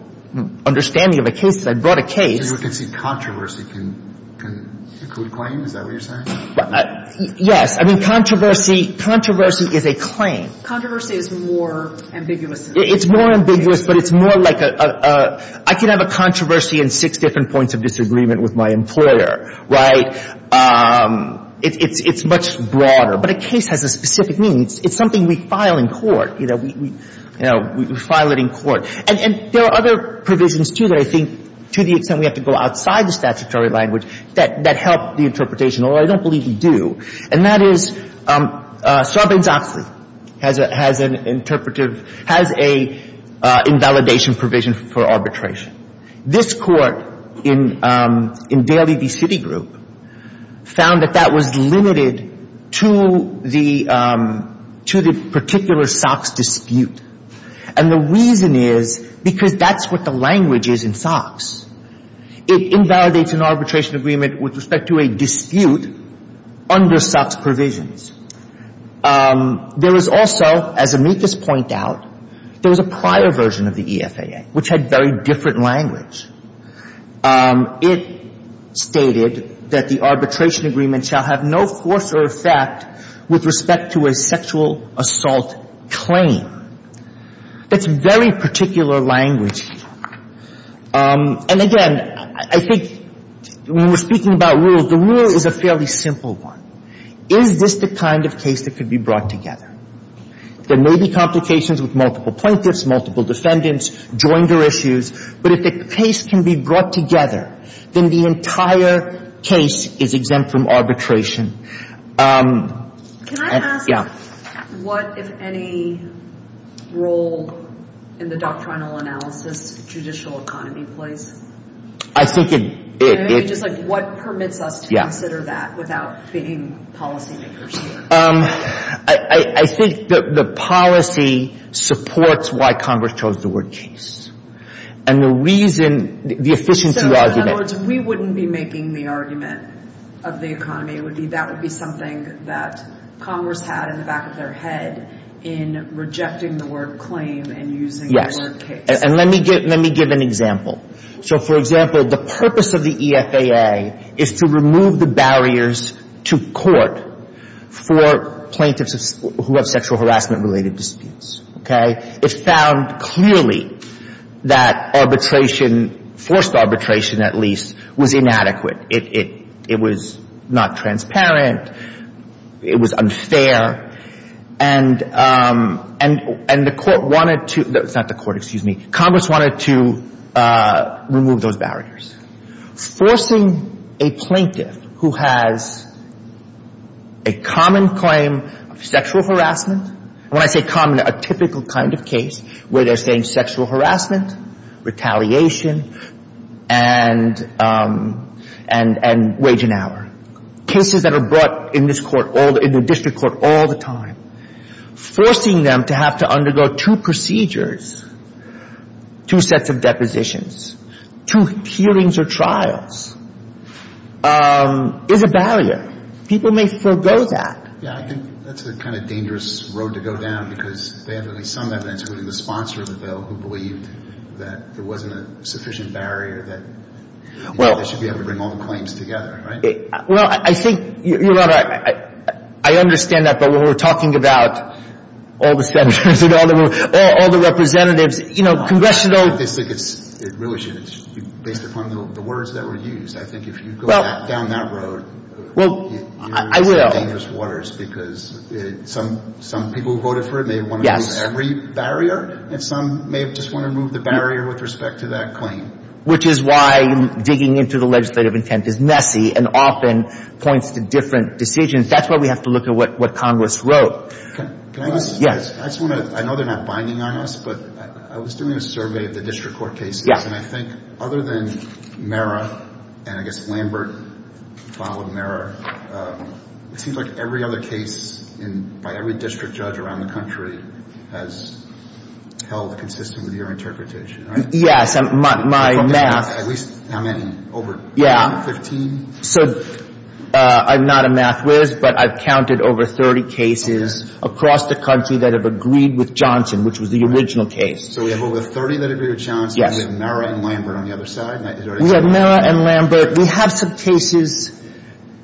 understanding of a case is I brought a case. So you would concede controversy can include a claim? Is that what you're saying? Yes. I mean, controversy is a claim. Controversy is more ambiguous than a claim. It's more ambiguous, but it's more like a – I can have a controversy in six different points of disagreement with my employer, right? It's much broader. But a case has a specific meaning. It's something we file in court. You know, we file it in court. There are other provisions, too, that I think, to the extent we have to go outside the statutory language, that help the interpretation, although I don't believe we do. And that is Sarbanes-Oxley has an interpretive – has an invalidation provision for arbitration. This Court in Daly v. Citigroup found that that was limited to the particular SOX dispute. And the reason is because that's what the language is in SOX. It invalidates an arbitration agreement with respect to a dispute under SOX provisions. There is also, as amicus point out, there was a prior version of the EFAA, which had very different language. It stated that the arbitration agreement shall have no force or effect with respect to a sexual assault claim. That's very particular language. And again, I think when we're speaking about rules, the rule is a fairly simple one. Is this the kind of case that could be brought together? There may be complications with multiple plaintiffs, multiple defendants, joinder issues. But if the case can be brought together, then the entire case is exempt from arbitration. Can I ask what, if any, role in the doctrinal analysis judicial economy plays? I think it… What permits us to consider that without being policy makers? I think the policy supports why Congress chose the word case. And the reason, the efficiency argument… We wouldn't be making the argument of the economy. It would be that would be something that Congress had in the back of their head in rejecting the word claim and using the word case. And let me give an example. So, for example, the purpose of the EFAA is to remove the barriers to court for plaintiffs who have sexual harassment-related disputes. It found clearly that arbitration, forced arbitration at least, was inadequate. It was not transparent. It was unfair. And the court wanted to, not the court, excuse me, Congress wanted to remove those barriers. Forcing a plaintiff who has a common claim of sexual harassment, when I say common, a typical kind of case where they're saying sexual harassment, retaliation, and wage and hour. Cases that are brought in this court, in the district court, all the time. Forcing them to have to undergo two procedures, two sets of depositions, two hearings or trials is a barrier. People may forego that. Yeah, I think that's a kind of dangerous road to go down. Because they have at least some evidence, including the sponsor of the bill, who believed that there wasn't a sufficient barrier that they should be able to bring all the claims together, right? Well, I think, Your Honor, I understand that. But when we're talking about all the senators and all the representatives, you know, congressional I don't think it really should. It should be based upon the words that were used. I think if you go down that road, you're in some dangerous waters. Because some people who voted for it may want to remove every barrier. And some may just want to remove the barrier with respect to that claim. Which is why digging into the legislative intent is messy and often points to different decisions. That's why we have to look at what Congress wrote. Yes. I just want to, I know they're not binding on us, but I was doing a survey of the district court cases. And I think other than Mara, and I guess Lambert followed Mara, it seems like every other case by every district judge around the country has held consistent with your interpretation, right? Yes. My math. At least how many? Over 15? So I'm not a math whiz, but I've counted over 30 cases across the country that have agreed with Johnson, which was the original case. So we have over 30 that agreed with Johnson. Yes. And we have Mara and Lambert on the other side. We have Mara and Lambert. We have some cases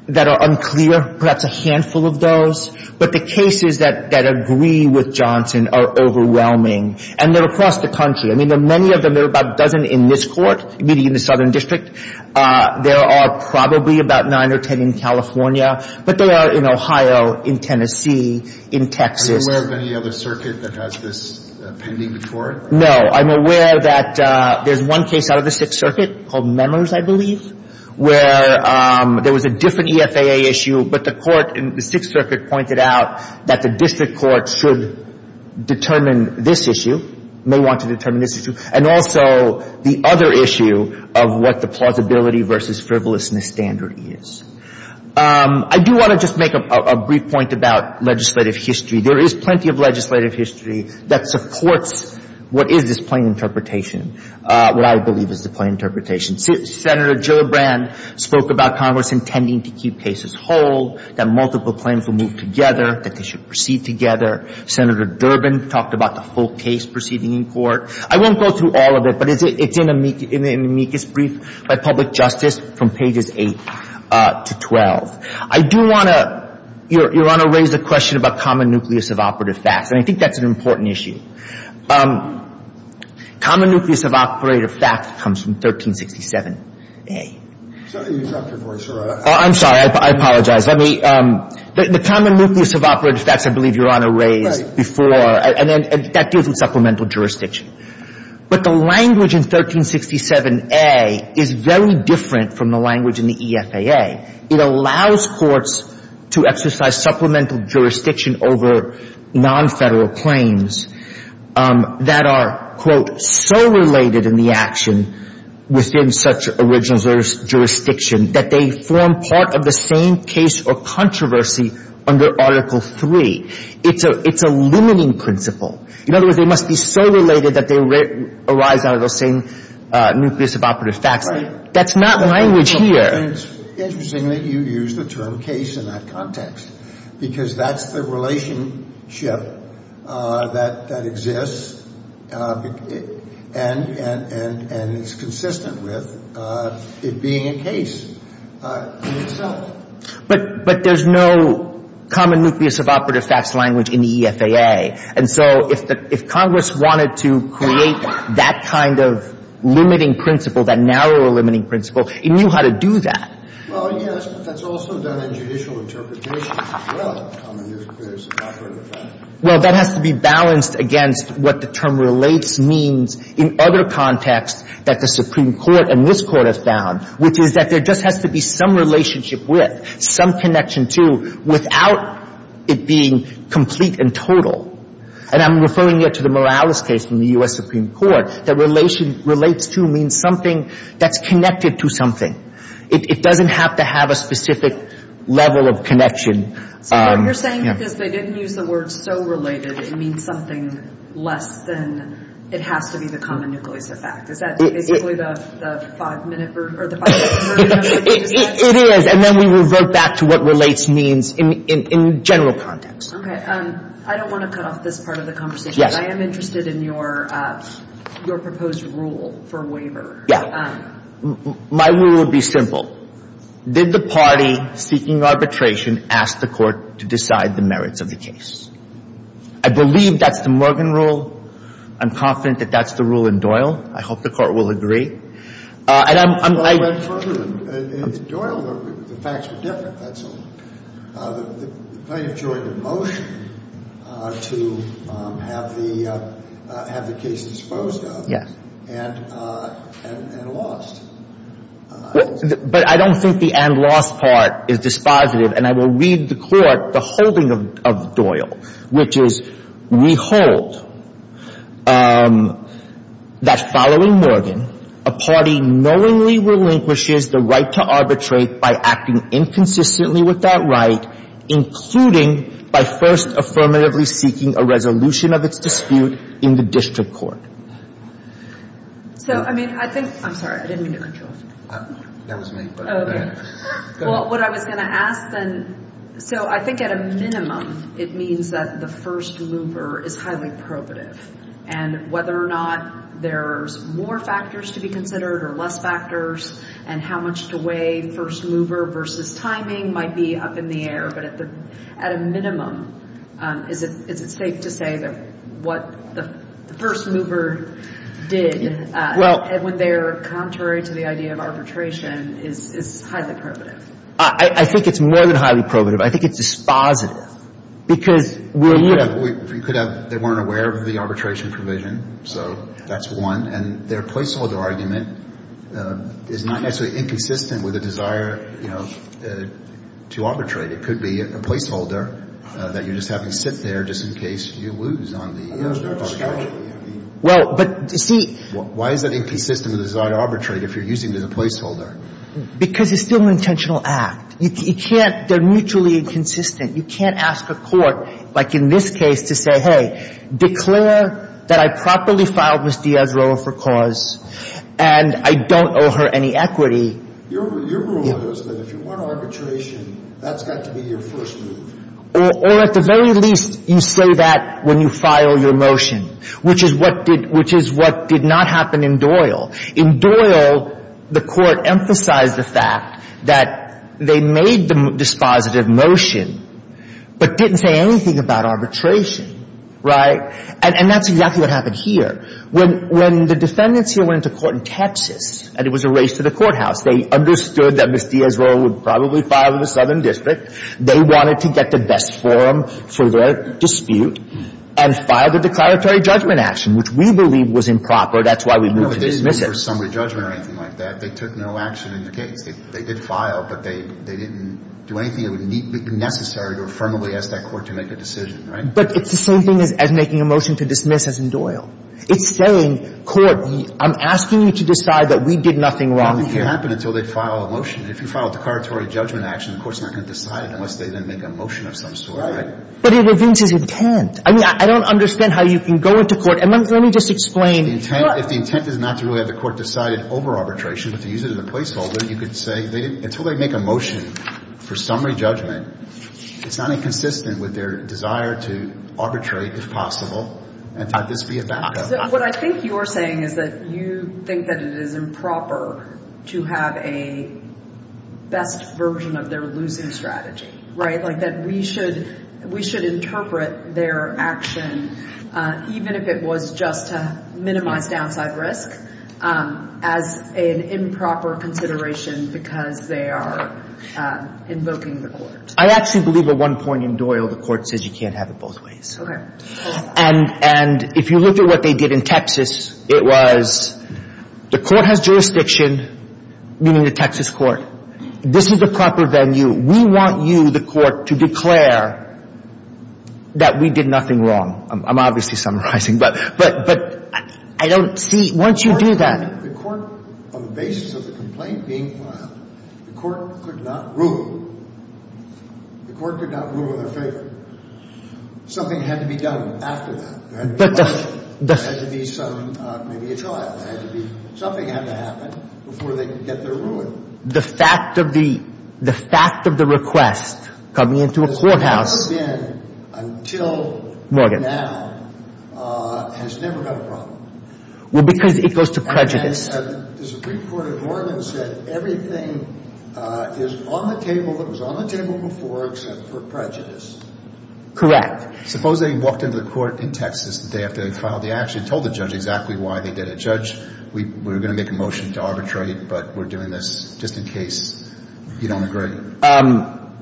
that are unclear, perhaps a handful of those. But the cases that agree with Johnson are overwhelming. And they're across the country. I mean, there are many of them. There are about a dozen in this Court, meeting in the Southern District. There are probably about nine or ten in California. But they are in Ohio, in Tennessee, in Texas. Are you aware of any other circuit that has this pending before it? No. I'm aware that there's one case out of the Sixth Circuit called Members, I believe. Where there was a different EFAA issue, but the court in the Sixth Circuit pointed out that the district court should determine this issue, may want to determine this issue, and also the other issue of what the plausibility versus frivolousness standard is. I do want to just make a brief point about legislative history. There is plenty of legislative history that supports what is this plain interpretation, what I believe is the plain interpretation. Senator Gillibrand spoke about Congress intending to keep cases whole, that multiple claims will move together, that they should proceed together. Senator Durbin talked about the full case proceeding in court. I won't go through all of it. But it's in the amicus brief by public justice from pages 8 to 12. I do want to raise a question about common nucleus of operative facts. And I think that's an important issue. Common nucleus of operative facts comes from 1367A. I'm sorry. I apologize. I mean, the common nucleus of operative facts, I believe, Your Honor raised before, and that deals with supplemental jurisdiction. But the language in 1367A is very different from the language in the EFAA. It allows courts to exercise supplemental jurisdiction over non-Federal claims. That are, quote, so related in the action within such original jurisdiction, that they form part of the same case or controversy under Article III. It's a limiting principle. In other words, they must be so related that they arise out of the same nucleus of operative facts. That's not language here. And it's interesting that you use the term case in that context. Because that's the relationship that exists. And it's consistent with it being a case in itself. But there's no common nucleus of operative facts language in the EFAA. And so if Congress wanted to create that kind of limiting principle, that narrow limiting principle, it knew how to do that. Well, yes, but that's also done in judicial interpretations as well, common nucleus of operative facts. Well, that has to be balanced against what the term relates means in other contexts that the Supreme Court and this Court have found. Which is that there just has to be some relationship with, some connection to, without it being complete and total. And I'm referring here to the Morales case from the U.S. Supreme Court, that relates to means something that's connected to something. It doesn't have to have a specific level of connection. So what you're saying is they didn't use the word so related, it means something less than it has to be the common nucleus of fact. Is that basically the five-minute or the five-minute version of the case? It is. And then we revert back to what relates means in general context. Okay. I don't want to cut off this part of the conversation. I am interested in your proposed rule for waiver. Yeah. My rule would be simple. Did the party seeking arbitration ask the Court to decide the merits of the case? I believe that's the Morgan rule. I'm confident that that's the rule in Doyle. I hope the Court will agree. And I'm, I'm, I'm. Well, I went further than, in Doyle, the facts were different, that's all. The plaintiff joined the motion to have the, have the case disposed of. Yes. And, and lost. But I don't think the and lost part is dispositive. And I will read the Court the holding of Doyle, which is, we hold that following Morgan, a party knowingly relinquishes the right to arbitrate by acting inconsistently with that right, including by first affirmatively seeking a resolution of its dispute in the district court. So, I mean, I think, I'm sorry, I didn't mean to interrupt you. That was me. Well, what I was going to ask then, so I think at a minimum, it means that the first mover is highly probative. And whether or not there's more factors to be considered or less factors, and how much to weigh first mover versus timing might be up in the air, but at the, at a Well, I think it's more than highly probative. I think it's dispositive. Because we're, you know, we could have, they weren't aware of the arbitration provision. So that's one. And their placeholder argument is not necessarily inconsistent with a desire, you know, to arbitrate. It could be a placeholder that you're just having to sit there just in case you lose on the, on the, on the. Well, but see. Why is that inconsistent with the desire to arbitrate if you're using it as a placeholder? Because it's still an intentional act. You can't, they're mutually inconsistent. You can't ask a court, like in this case, to say, hey, declare that I properly filed Ms. Diaz-Roa for cause, and I don't owe her any equity. Your rule is that if you want arbitration, that's got to be your first move. Or at the very least, you say that when you file your motion, which is what did, which is what did not happen in Doyle. In Doyle, the court emphasized the fact that they made the dispositive motion, but didn't say anything about arbitration. Right? And that's exactly what happened here. When, when the defendants here went to court in Texas, and it was a race to the courthouse, they understood that Ms. Diaz-Roa would probably file in the Southern District. They wanted to get the best for them for their dispute, and filed a declaratory judgment action, which we believe was improper. That's why we moved to dismiss it. No, but they didn't do a summary judgment or anything like that. They took no action in the case. They did file, but they, they didn't do anything that would be necessary to affirmably ask that court to make a decision. Right? But it's the same thing as making a motion to dismiss, as in Doyle. It's saying, court, I'm asking you to decide that we did nothing wrong here. Well, it can't happen until they file a motion. If you file a declaratory judgment action, the court's not going to decide it unless they then make a motion of some sort. But it reveals his intent. I mean, I, I don't understand how you can go into court, and let, let me just explain. The intent, if the intent is not to really have the court decided over arbitration, but to use it as a placeholder, you could say they didn't, until they make a motion for summary judgment, it's not inconsistent with their desire to arbitrate, if possible, and to have this be a backup. What I think you're saying is that you think that it is improper to have a best version of their losing strategy, right? Like, that we should, we should interpret their action, even if it was just to minimize downside risk, as an improper consideration because they are invoking the court. I actually believe at one point in Doyle, the court says you can't have it both ways. And, and if you look at what they did in Texas, it was, the court has jurisdiction, meaning the Texas court. This is the proper venue. We want you, the court, to declare that we did nothing wrong. I'm obviously summarizing, but, but, but I don't see, once you do that. The court, on the basis of the complaint being filed, the court could not rule, the court could not rule in their favor. Something had to be done after that. There had to be a trial. There had to be, something had to happen before they could get their ruling. The fact of the, the fact of the request coming into a courthouse. This has never been, until now, has never been a problem. Well, because it goes to prejudice. And the Supreme Court of Oregon said everything is on the table, that was on the Correct. Suppose they walked into the court in Texas the day after they filed the action, told the judge exactly why they did it. Judge, we were going to make a motion to arbitrate, but we're doing this just in case you don't agree.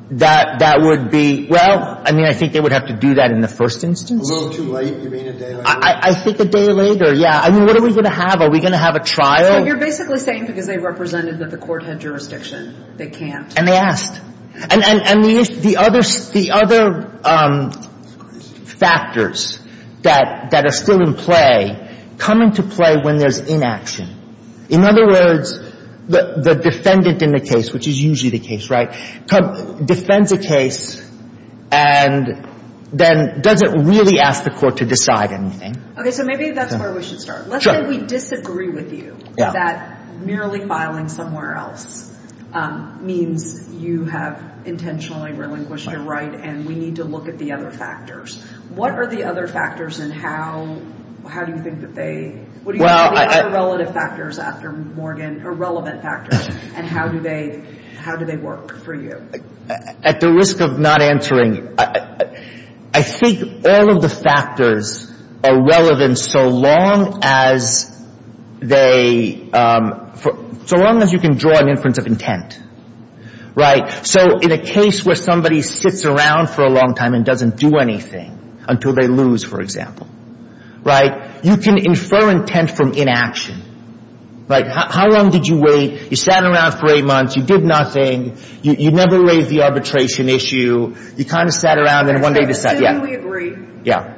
That, that would be, well, I mean, I think they would have to do that in the first instance. A little too late, you mean a day later? I think a day later, yeah. I mean, what are we going to have? Are we going to have a trial? So you're basically saying because they represented that the court had jurisdiction, they can't. And they asked. And, and, and the other, the other factors that, that are still in play come into play when there's inaction. In other words, the, the defendant in the case, which is usually the case, right, defends a case and then doesn't really ask the court to decide anything. Okay, so maybe that's where we should start. Let's say we disagree with you that merely filing somewhere else means you have intentionally relinquished your right and we need to look at the other factors. What are the other factors and how, how do you think that they, what are the other relative factors after Morgan, or relevant factors, and how do they, how do they work for you? At the risk of not answering, I think all of the factors are relevant so long as they, um, for, so long as you can draw an inference of intent, right? So in a case where somebody sits around for a long time and doesn't do anything until they lose, for example, right? You can infer intent from inaction. Like, how long did you wait? You sat around for eight months, you did nothing, you, you never raised the arbitration issue, you kind of sat around and one day decided, yeah, yeah.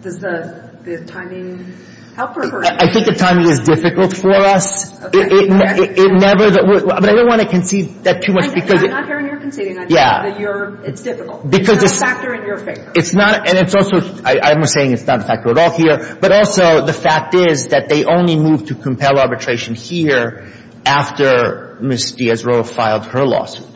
Does the, the timing help? I think the timing is difficult for us. It never, but I don't want to concede that too much because. I'm not hearing you're conceding anything. Yeah. That you're, it's difficult. Because it's. It's not a factor in your favor. It's not, and it's also, I'm saying it's not a factor at all here, but also the fact is that they only moved to compel arbitration here after Ms. Diaz-Roa filed her lawsuit.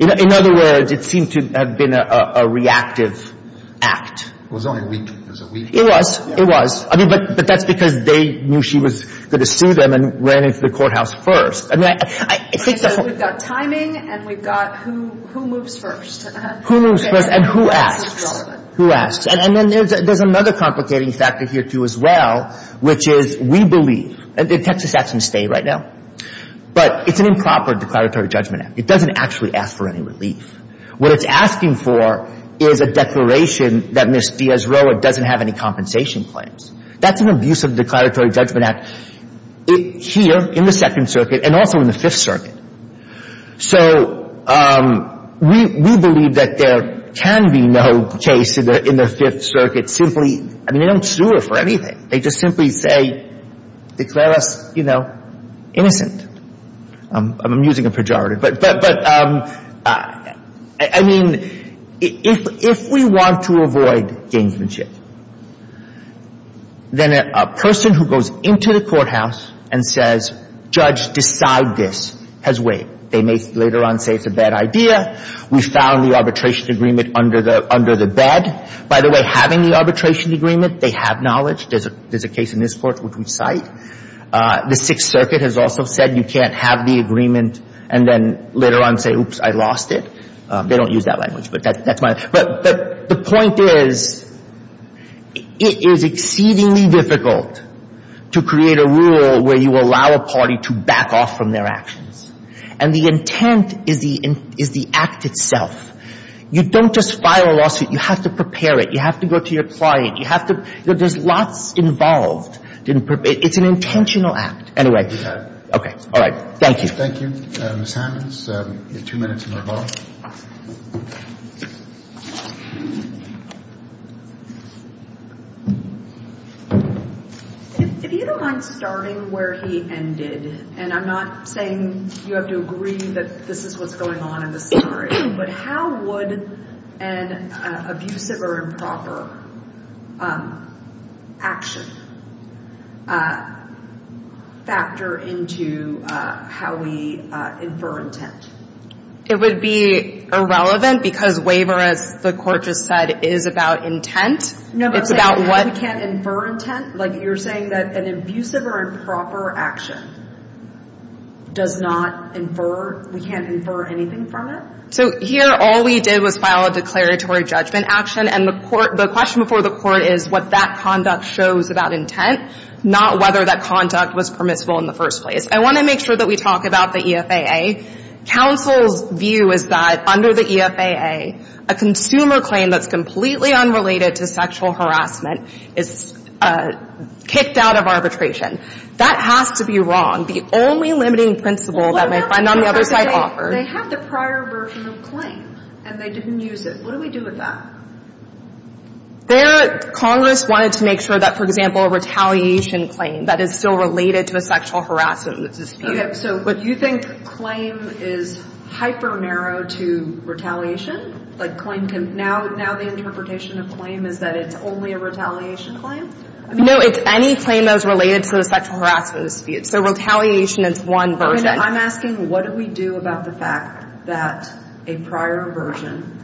In other words, it seemed to have been a, a reactive act. It was only a week, it was a week. It was, it was. I mean, but, but that's because they knew she was going to sue them and ran into the courthouse first. I mean, I, I think. And so we've got timing and we've got who, who moves first. Who moves first and who asks. Who asks. And then there's, there's another complicating factor here too as well, which is we believe, the Texas Act can stay right now, but it's an improper declaratory judgment act. It doesn't actually ask for any relief. What it's asking for is a declaration that Ms. Diaz-Roa doesn't have any compensation claims. That's an abusive declaratory judgment act here in the Second Circuit and also in the Fifth Circuit. So we, we believe that there can be no case in the, in the Fifth Circuit simply, I mean, they don't sue her for anything. They just simply say, declare us, you know, innocent. I'm, I'm using a pejorative, but, but, but I mean, if, if we want to avoid gamesmanship, then a person who goes into the courthouse and says, judge, decide this, has weight. They may later on say it's a bad idea. We found the arbitration agreement under the, under the bed. By the way, having the arbitration agreement, they have knowledge. There's a, there's a case in this court which we cite. The Sixth Circuit has also said you can't have the agreement and then later on say, oops, I lost it. They don't use that language, but that, that's my, but, but the point is, it is exceedingly difficult to create a rule where you allow a party to back off from their actions. And the intent is the, is the act itself. You don't just file a lawsuit. You have to prepare it. You have to go to your client. You have to, there's lots involved. Didn't prepare, it's an intentional act. Anyway. All right. Thank you. Thank you. Ms. Hammonds, you have two minutes in the hall. If you don't mind starting where he ended, and I'm not saying you have to agree that this is what's going on in this story, but how would an abusive or improper action factor into how we infer intent? It would be irrelevant because waiver, as the Court just said, is about intent. No, but I'm saying we can't infer intent. Like, you're saying that an abusive or improper action does not infer, we can't infer anything from it? So here, all we did was file a declaratory judgment action, and the Court, the question before the Court is what that conduct shows about intent, not whether that conduct was permissible in the first place. I want to make sure that we talk about the EFAA. Counsel's view is that under the EFAA, a consumer claim that's completely unrelated to sexual harassment is kicked out of arbitration. That has to be wrong. The only limiting principle that my friend on the other side offered. They have the prior version of claim, and they didn't use it. What do we do with that? There, Congress wanted to make sure that, for example, a retaliation claim that is still related to a sexual harassment dispute. So you think claim is hyper-narrow to retaliation? Like, now the interpretation of claim is that it's only a retaliation claim? No, it's any claim that was related to a sexual harassment dispute. So retaliation is one version. I'm asking what do we do about the fact that a prior version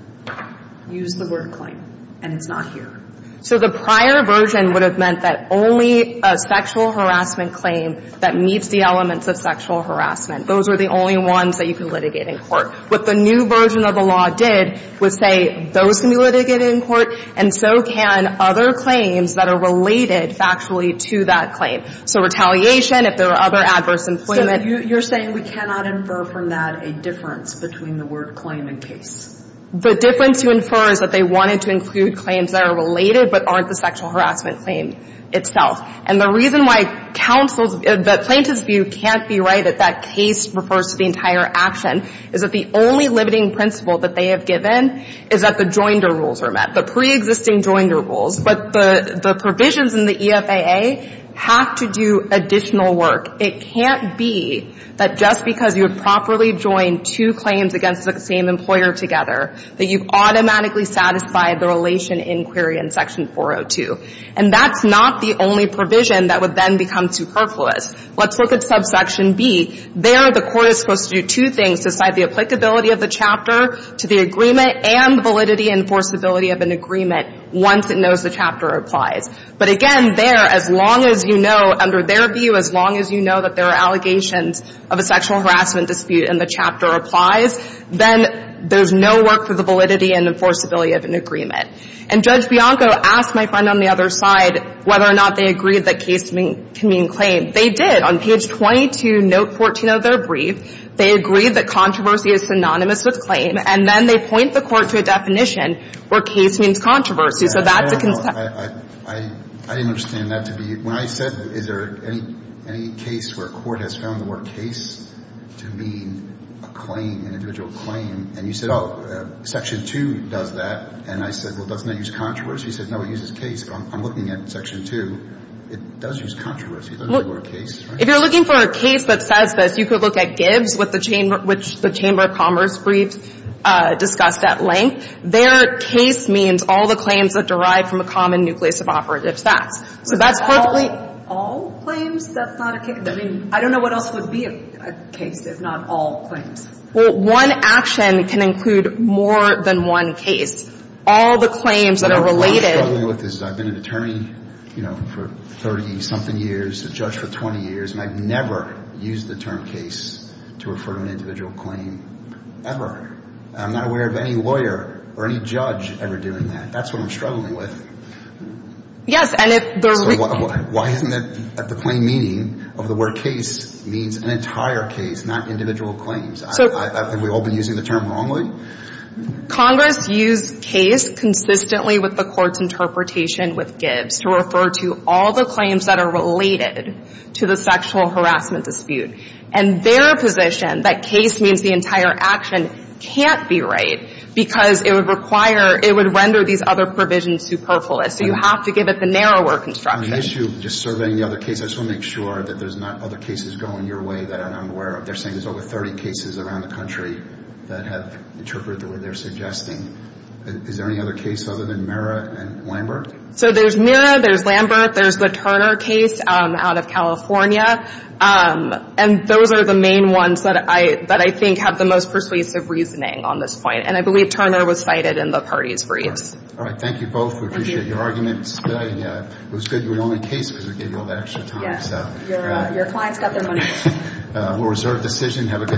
used the word claim, and it's not here? So the prior version would have meant that only a sexual harassment claim that meets the elements of sexual harassment, those were the only ones that you could litigate in court. What the new version of the law did was say those can be litigated in court, and so can other claims that are related factually to that claim. So retaliation, if there were other adverse employment. You're saying we cannot infer from that a difference between the word claim and case? The difference to infer is that they wanted to include claims that are related but aren't the sexual harassment claim itself. And the reason why counsel's, the plaintiff's view can't be right that that case refers to the entire action is that the only limiting principle that they have given is that the joinder rules are met, the preexisting joinder rules. But the provisions in the EFAA have to do additional work. It can't be that just because you have properly joined two claims against the same employer together that you've automatically satisfied the relation inquiry in section 402. And that's not the only provision that would then become superfluous. Let's look at subsection B. There, the court is supposed to do two things, decide the applicability of the chapter to the agreement and validity and forcibility of an agreement once it knows the chapter applies. But again, there, as long as you know, under their view, as long as you know that there are allegations of a sexual harassment dispute and the chapter applies, then there's no work for the validity and enforceability of an agreement. And Judge Bianco asked my friend on the other side whether or not they agreed that case can mean claim. They did. On page 22, note 14 of their brief, they agreed that controversy is synonymous with claim. And then they point the court to a definition where case means controversy. So that's a concern. I didn't understand that to be. When I said, is there any case where a court has found the word case to mean a claim, an individual claim? And you said, oh, section 2 does that. And I said, well, doesn't that use controversy? He said, no, it uses case. I'm looking at section 2. It does use controversy. It doesn't use the word case. If you're looking for a case that says this, you could look at Gibbs, which the Chamber of Commerce briefs discussed at length. Their case means all the claims that derive from a common nucleus of operative stats. So that's perfectly All claims? That's not a case? I mean, I don't know what else would be a case if not all claims. Well, one action can include more than one case. All the claims that are related What I'm struggling with is I've been an attorney, you know, for 30-something years, a judge for 20 years, and I've never used the term case to refer to an individual claim, ever. I'm not aware of any lawyer or any judge ever doing that. That's what I'm struggling with. And if there's Why isn't it that the claim meaning of the word case means an entire case, not individual claims? So I think we've all been using the term wrongly. Congress used case consistently with the Court's interpretation with Gibbs to refer to all the claims that are related to the sexual harassment dispute and their position that case means the entire action can't be right because it would require, it would render these other provisions superfluous. So you have to give it the narrower construction. On the issue of just surveying the other cases, I just want to make sure that there's not other cases going your way that I'm aware of. They're saying there's over 30 cases around the country that have interpreted what they're suggesting. Is there any other case other than Mira and Lambert? So there's Mira, there's Lambert, there's the Turner case out of California, and those are the main ones that I think have the most persuasive reasoning on this point. And I believe Turner was cited in the party's briefs. All right. Thank you both. We appreciate your arguments today. It was good you were the only case because we gave you all that extra time. Your clients got their money's worth. We'll reserve decision. Have a good day.